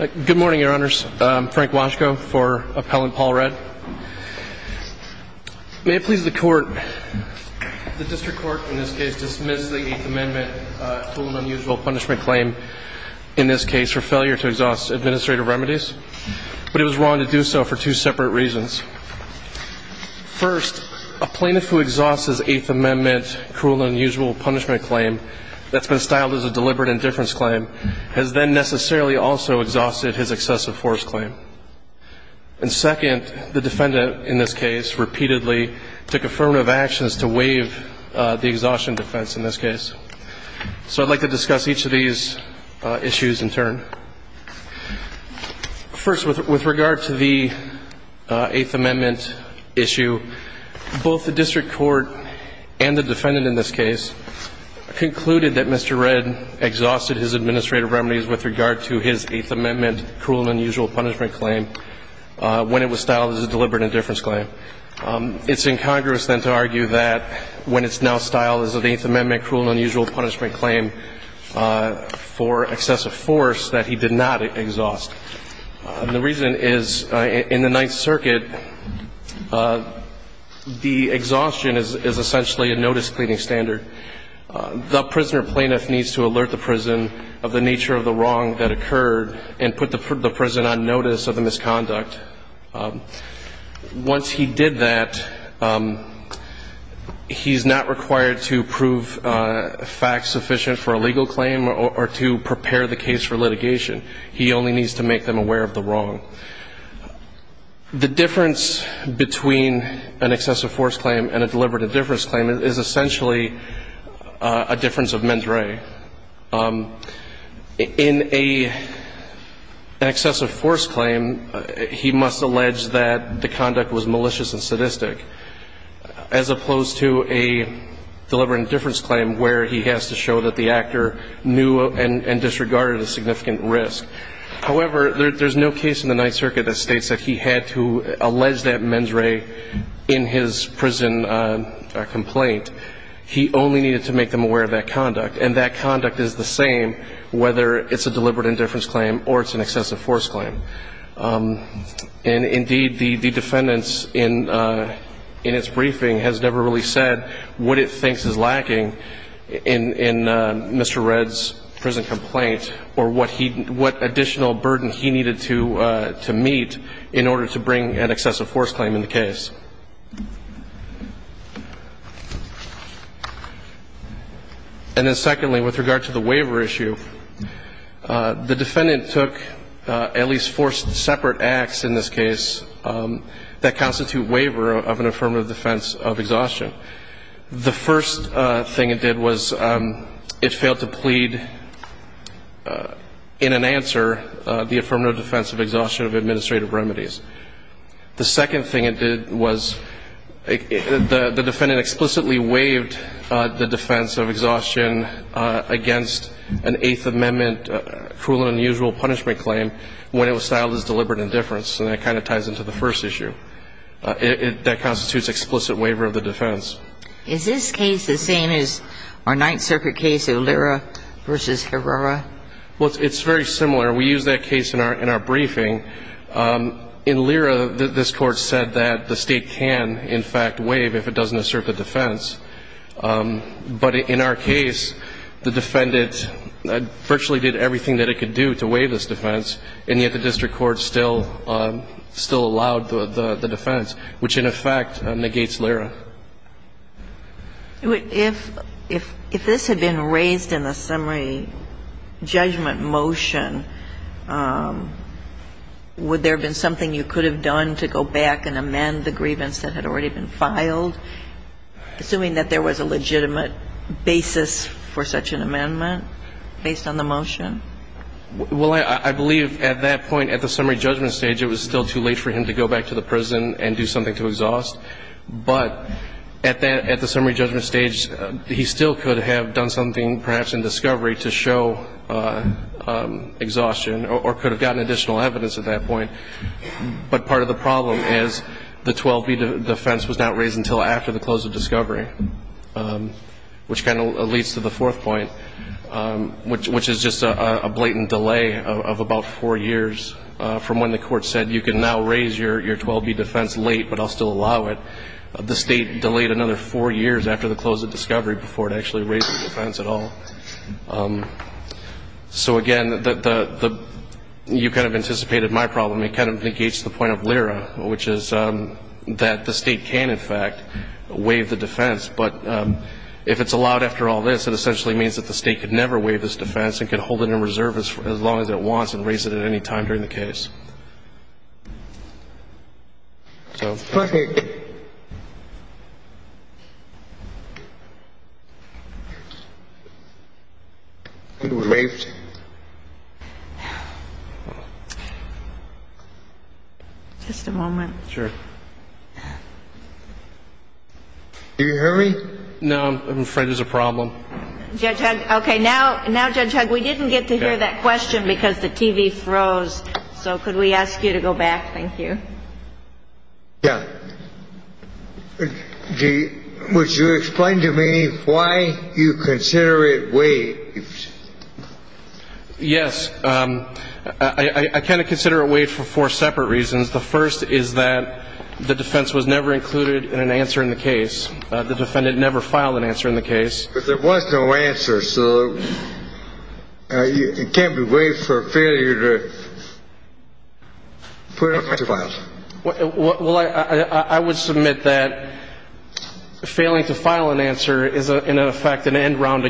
Good morning, Your Honors. I'm Frank Washko for Appellant Paul Redd. May it please the Court, the District Court in this case dismissed the Eighth Amendment cruel and unusual punishment claim, in this case for failure to exhaust administrative remedies, but it was wrong to do so for two separate reasons. First, a plaintiff who exhausts his Eighth Amendment cruel and unusual punishment claim that's been styled as a deliberate indifference claim has then necessarily also exhausted his excessive force claim. And second, the defendant in this case repeatedly took affirmative actions to waive the exhaustion defense in this case. So I'd like to discuss each of these issues in turn. First, with regard to the Eighth Amendment issue, both the District Court and the defendant in this case concluded that Mr. Redd exhausted his administrative remedies with regard to his Eighth Amendment cruel and unusual punishment claim when it was styled as a deliberate indifference claim. It's incongruous, then, to argue that when it's now styled as an Eighth Amendment cruel and unusual punishment claim for excessive force that he did not exhaust. The reason is, in the Ninth Circuit, the exhaustion is essentially a notice-cleaning standard. The prisoner plaintiff needs to alert the prison of the nature of the wrong that occurred and put the prison on notice of the misconduct. Once he did that, he's not required to prove facts sufficient for a legal claim or to prepare the case for litigation. He only needs to make them aware of the wrong. The difference between an excessive force claim and a deliberate indifference claim is essentially a difference of ment re. In an excessive force claim, he must allege that the conduct was malicious and sadistic, as opposed to a deliberate indifference claim where he has to show that the actor knew and disregarded a significant risk. However, there's no case in the Ninth Circuit that states that he had to allege that ment re in his prison complaint. He only needed to make them aware of that conduct, and that conduct is the same whether it's a deliberate indifference claim or it's an excessive force claim. And, indeed, the defendants in its briefing has never really said what it thinks is lacking in Mr. Redd's prison complaint or what additional burden he needed to meet in order to bring an excessive force claim in the case. And then, secondly, with regard to the waiver issue, the defendant took at least four separate acts in this case that constitute waiver of an affirmative defense of exhaustion. The first thing it did was it failed to plead in an answer the affirmative defense of exhaustion of administrative remedies. The second thing it did was the defendant explicitly waived the defense of exhaustion against an Eighth Amendment cruel and unusual punishment claim when it was styled as deliberate indifference, and that kind of ties into the first issue. That constitutes explicit waiver of the defense. Is this case the same as our Ninth Circuit case, Olera v. Herrera? Well, it's very similar. We use that case in our briefing. In Olera, this Court said that the State can, in fact, waive if it doesn't assert the defense. But in our case, the defendant virtually did everything that it could do to waive this defense, and yet the district court still allowed the defense, which, in effect, negates Olera. If this had been raised in the summary judgment motion, would there have been something you could have done to go back and amend the grievance that had already been filed, assuming that there was a legitimate basis for such an amendment based on the motion? Well, I believe at that point, at the summary judgment stage, it was still too late for him to go back to the prison and do something to exhaust. But at the summary judgment stage, he still could have done something perhaps in discovery to show exhaustion or could have gotten additional evidence at that point. But part of the problem is the 12B defense was not raised until after the close of discovery, which kind of leads to the fourth point, which is just a blatant delay of about four years from when the court said you can now raise your 12B defense late, but I'll still allow it. The state delayed another four years after the close of discovery before it actually raised the defense at all. So, again, you kind of anticipated my problem. It kind of negates the point of Olera, which is that the state can, in fact, waive the defense. But if it's allowed after all this, it essentially means that the state could never waive this defense and could hold it in reserve for as long as it wants and raise it at any time during the case. So. Okay. You may. Just a moment. Sure. Do you hear me? No, I'm afraid there's a problem. Okay. Now, Judge Hugg, we didn't get to hear that question because the TV froze. So could we ask you to go back? Thank you. Yeah. Would you explain to me why you consider it waived? Yes. I kind of consider it waived for four separate reasons. The first is that the defense was never included in an answer in the case. The defendant never filed an answer in the case. But there was no answer. So it can't be waived for failure to put it into files. Well, I would submit that failing to file an answer is, in effect, an end run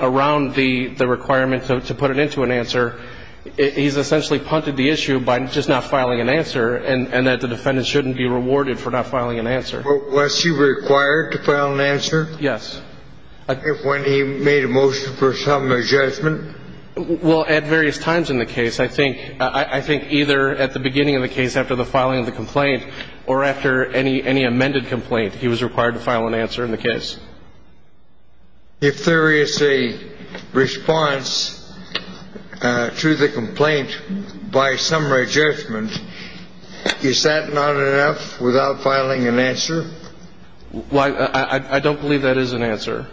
around the requirement to put it into an answer. He's essentially punted the issue by just not filing an answer and that the defendant shouldn't be rewarded for not filing an answer. Was he required to file an answer? Yes. When he made a motion for some adjustment? Well, at various times in the case. I think either at the beginning of the case after the filing of the complaint or after any amended complaint, he was required to file an answer in the case. If there is a response to the complaint by some adjustment, is that not enough without filing an answer? I don't believe that is an answer.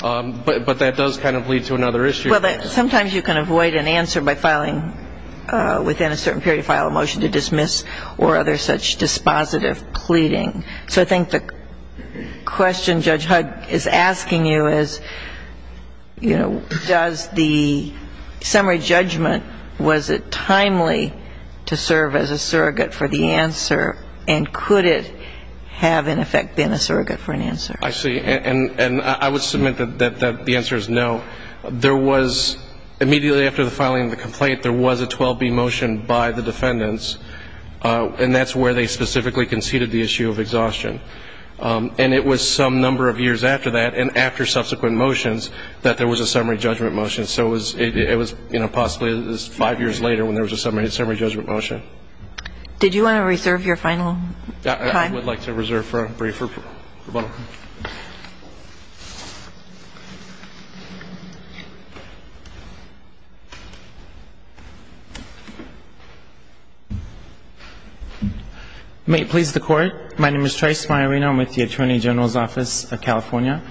But that does kind of lead to another issue. Well, sometimes you can avoid an answer by filing within a certain period of time a motion to dismiss or other such dispositive pleading. So I think the question Judge Hud is asking you is, you know, does the summary judgment, was it timely to serve as a surrogate for the answer, and could it have, in effect, been a surrogate for an answer? I see. And I would submit that the answer is no. There was, immediately after the filing of the complaint, there was a 12B motion by the defendants, and that's where they specifically conceded the issue of exhaustion. And it was some number of years after that, and after subsequent motions, that there was a summary judgment motion. So it was, you know, possibly five years later when there was a summary judgment motion. Did you want to reserve your final time? I would like to reserve for a briefer rebuttal. May it please the Court. My name is Trice Maiorino. I'm with the Attorney General's Office of California.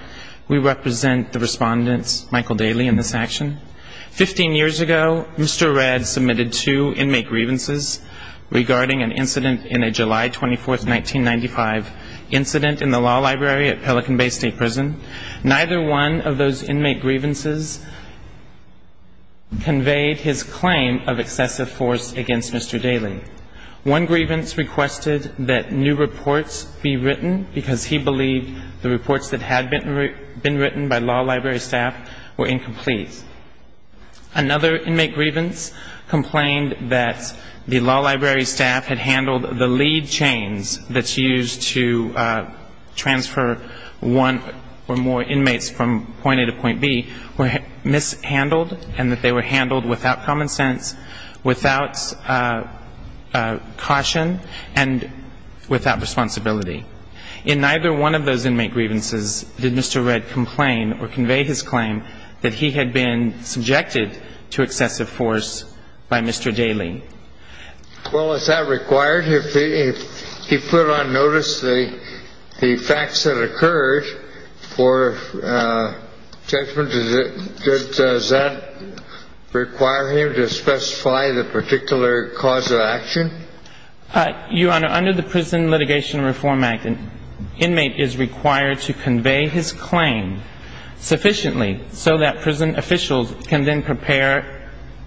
We represent the Respondent, Michael Daly, in this action. Fifteen years ago, Mr. Redd submitted two inmate grievances regarding an incident in a July 24th, 1995, incident in the law library at Pelican Bay State Prison. Neither one of those inmate grievances conveyed his claim of excessive force against Mr. Daly. One grievance requested that new reports be written, because he believed the reports that had been written by law library staff were incomplete. Another inmate grievance complained that the law library staff had handled the lead chains that's used to transfer one or more inmates from point A to point B were mishandled and that they were handled without common sense, without caution, and without responsibility. In neither one of those inmate grievances did Mr. Redd complain or convey his claim that he had been subjected to excessive force by Mr. Daly. Well, is that required? If he put on notice the facts that occurred for judgment, does that require him to specify the particular cause of action? Your Honor, under the Prison Litigation Reform Act, an inmate is required to convey his claim sufficiently so that prison officials can then prepare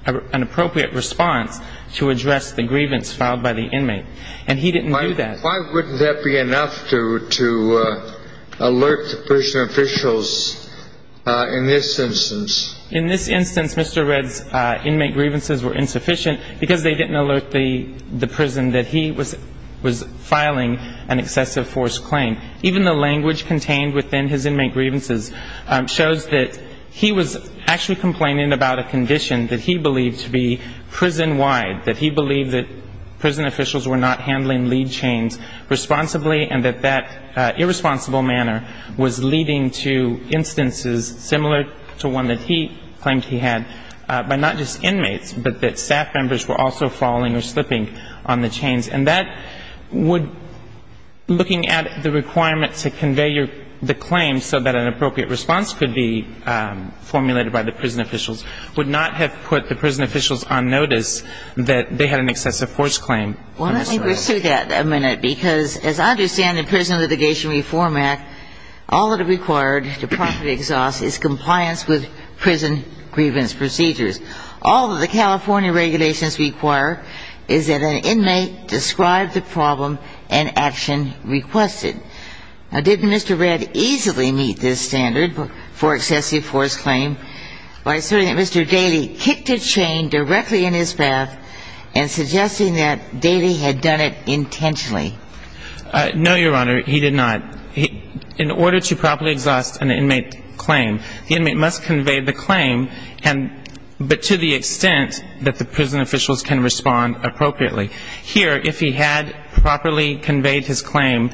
an appropriate response to address the grievance filed by the inmate. And he didn't do that. Why wouldn't that be enough to alert the prison officials in this instance? In this instance, Mr. Redd's inmate grievances were insufficient because they didn't alert the prison that he was filing an excessive force claim. Even the language contained within his inmate grievances shows that he was actually complaining about a condition that he believed to be prison-wide, that he believed that prison officials were not handling lead chains responsibly and that that irresponsible manner was leading to instances similar to one that he claimed he had, but not just inmates, but that staff members were also falling or slipping on the chains. And that would, looking at the requirement to convey the claim so that an appropriate response could be formulated by the prison officials, would not have put the prison officials on notice that they had an excessive force claim. Well, let me pursue that a minute, because as I understand the Prison Litigation Reform Act, all it required to properly exhaust is compliance with prison grievance procedures. All that the California regulations require is that an inmate describe the problem and action requested. Now, didn't Mr. Redd easily meet this standard for excessive force claim by asserting that Mr. Daley kicked a chain directly in his path and suggesting that Daley had done it intentionally? No, Your Honor, he did not. In order to properly exhaust an inmate claim, the inmate must convey the claim, but to the extent that the prison officials can respond appropriately. Here, if he had properly conveyed his claim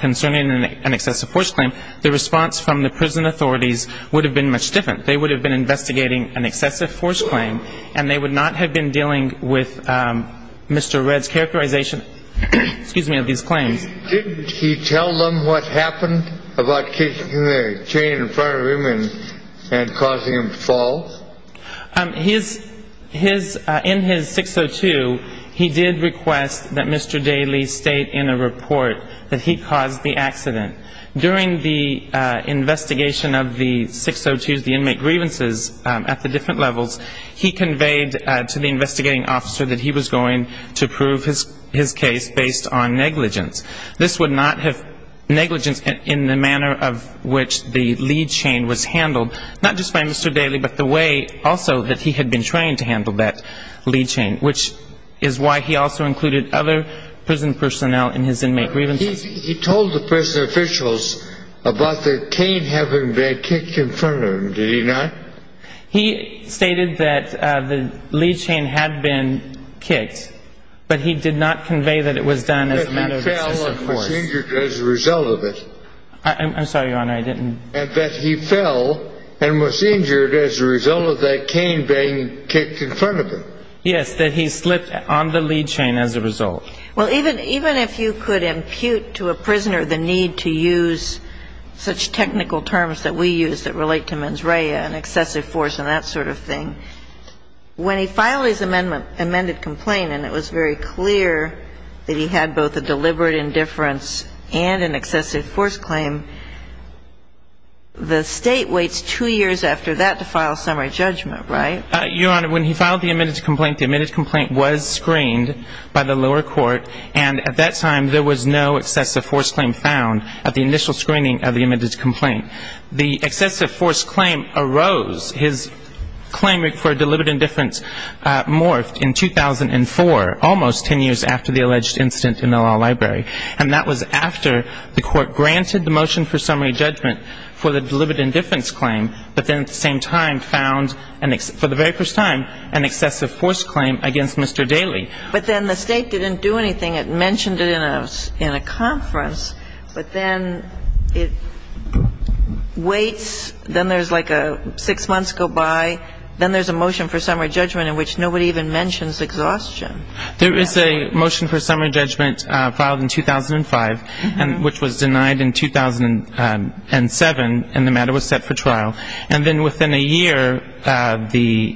concerning an excessive force claim, the response from the prison authorities would have been much different. They would have been investigating an excessive force claim, and they would not have been dealing with Mr. Redd's characterization of these claims. Didn't he tell them what happened about kicking the chain in front of him and causing him to fall? In his 602, he did request that Mr. Daley state in a report that he caused the accident. During the investigation of the 602s, the inmate grievances at the different levels, he conveyed to the investigating officer that he was going to prove his case based on negligence. This would not have negligence in the manner of which the lead chain was handled, not just by Mr. Daley, but the way also that he had been trained to handle that lead chain, which is why he also included other prison personnel in his inmate grievances. He told the prison officials about the chain having Redd kicked in front of him, did he not? He stated that the lead chain had been kicked, but he did not convey that it was done as a matter of excessive force. That he fell and was injured as a result of it. I'm sorry, Your Honor, I didn't. That he fell and was injured as a result of that cane being kicked in front of him. Yes, that he slipped on the lead chain as a result. Well, even if you could impute to a prisoner the need to use such technical terms that we use that relate to mens rea and excessive force and that sort of thing, when he filed his amended complaint and it was very clear that he had both a deliberate indifference and an excessive force claim, the State waits two years after that to file a summary judgment, right? Your Honor, when he filed the amended complaint, the amended complaint was screened by the lower court, and at that time there was no excessive force claim found at the initial screening of the amended complaint. The excessive force claim arose. His claim for deliberate indifference morphed in 2004, almost ten years after the alleged incident in the law library. And that was after the Court granted the motion for summary judgment for the deliberate indifference claim, but then at the same time found for the very first time an excessive force claim against Mr. Daley. But then the State didn't do anything. It mentioned it in a conference, but then it waits. Then there's like a six months go by. Then there's a motion for summary judgment in which nobody even mentions exhaustion. There is a motion for summary judgment filed in 2005, which was denied in 2007, and the matter was set for trial. And then within a year, the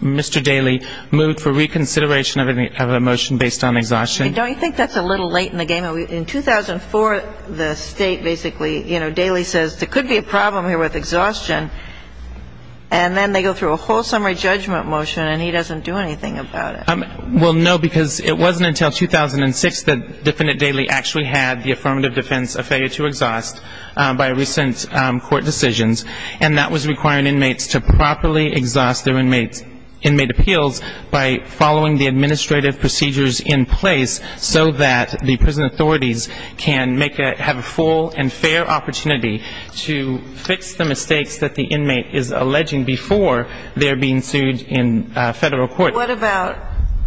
Mr. Daley moved for reconsideration of a motion based on exhaustion. Don't you think that's a little late in the game? In 2004, the State basically, you know, Daley says there could be a problem here with exhaustion, and then they go through a whole summary judgment motion and he doesn't do anything about it. Well, no, because it wasn't until 2006 that Defendant Daley actually had the affirmative defense of failure to exhaust by recent court decisions. And that was requiring inmates to properly exhaust their inmate appeals by following the administrative procedures in place so that the prison authorities can make a — have a full and fair opportunity to fix the mistakes that the inmate is alleging before they're being sued in Federal court. What about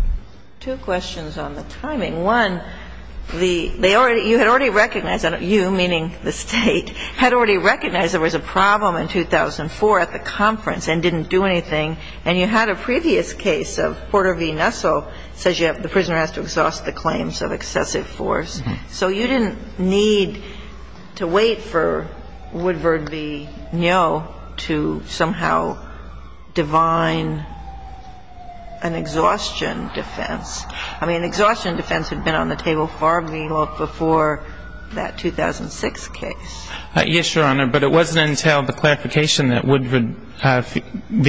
— two questions on the timing. One, the — they already — you had already recognized — you, meaning the State, had already recognized there was a problem in 2004 at the conference and didn't do anything. And you had a previous case of Porter v. Nussel says you have — the prisoner has to exhaust the claims of excessive force. So you didn't need to wait for Woodward v. Ngo to somehow divine an exhaustion defense. I mean, exhaustion defense had been on the table far before that 2006 case. Yes, Your Honor. But it wasn't until the clarification that Woodward v.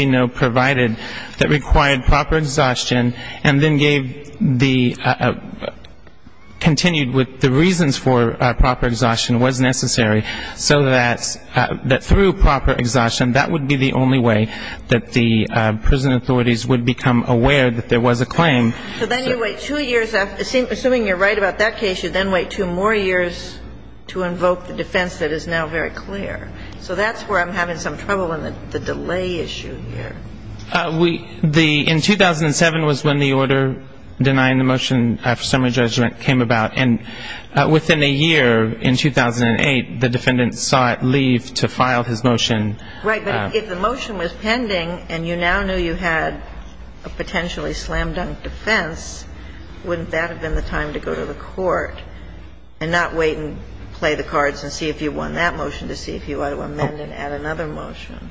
Ngo provided that required proper exhaustion and then gave the — continued with the reasons for proper exhaustion was necessary so that through proper exhaustion that would be the only way that the prison authorities would become aware that there was a claim. So then you wait two years — assuming you're right about that case, you then wait two more years to invoke the defense that is now very clear. So that's where I'm having some trouble in the delay issue here. We — the — in 2007 was when the order denying the motion after summary judgment came about. And within a year, in 2008, the defendant saw it leave to file his motion. Right. But if the motion was pending and you now knew you had a potentially slam-dunk defense, wouldn't that have been the time to go to the court and not wait and play the cards and see if you won that motion to see if you ought to amend and add another motion?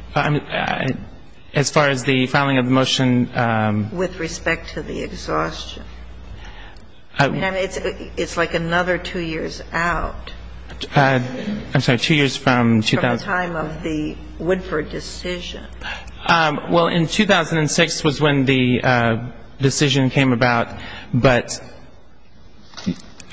As far as the filing of the motion — With respect to the exhaustion. I mean, it's like another two years out. I'm sorry, two years from — The time of the Woodford decision. Well, in 2006 was when the decision came about. But,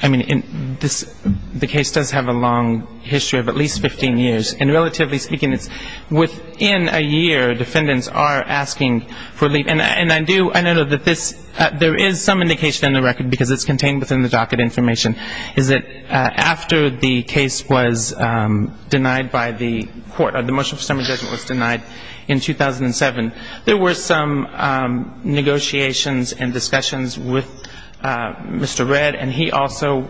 I mean, this — the case does have a long history of at least 15 years. And relatively speaking, it's within a year defendants are asking for leave. And I do — I know that this — there is some indication in the record, because it's contained within the docket information, is that after the case was denied by the court — the motion for summary judgment was denied in 2007, there were some negotiations and discussions with Mr. Redd. And he also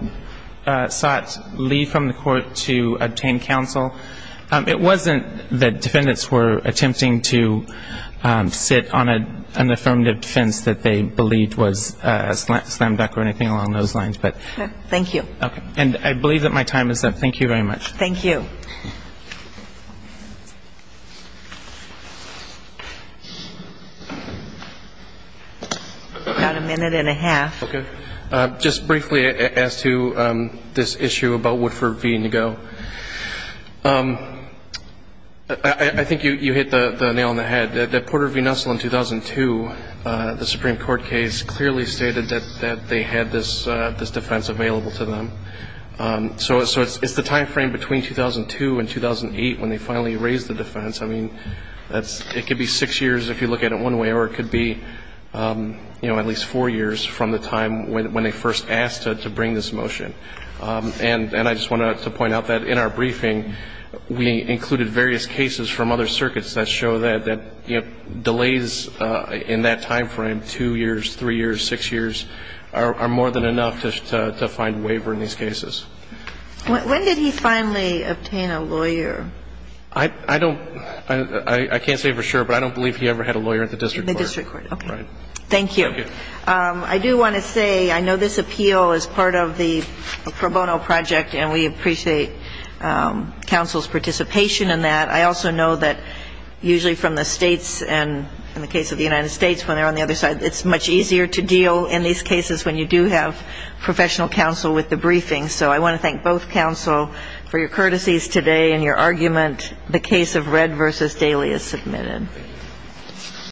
sought leave from the court to obtain counsel. It wasn't that defendants were attempting to sit on an affirmative defense that they believed was a slam-dunk or anything along those lines. But — Thank you. Okay. And I believe that my time is up. Thank you very much. Thank you. About a minute and a half. Okay. Just briefly as to this issue about Woodford v. Nego. I think you hit the nail on the head. That Porter v. Nestle in 2002, the Supreme Court case, clearly stated that they had this defense available to them. So it's the timeframe between 2002 and 2008 when they finally raised the defense. I mean, it could be six years if you look at it one way, or it could be at least four years from the time when they first asked to bring this motion. And I just wanted to point out that in our briefing, we included various cases from other circuits that show that delays in that timeframe, two years, three years, six years, are more than enough to find waiver in these cases. When did he finally obtain a lawyer? I don't — I can't say for sure, but I don't believe he ever had a lawyer at the district court. The district court. Okay. Right. Thank you. Thank you. I do want to say, I know this appeal is part of the pro bono project, and we appreciate counsel's participation in that. I also know that usually from the states, and in the case of the United States, when they're on the other side, it's much easier to deal in these cases when you do have professional counsel with the briefing. So I want to thank both counsel for your courtesies today and your argument. The case of Red v. Daly is submitted.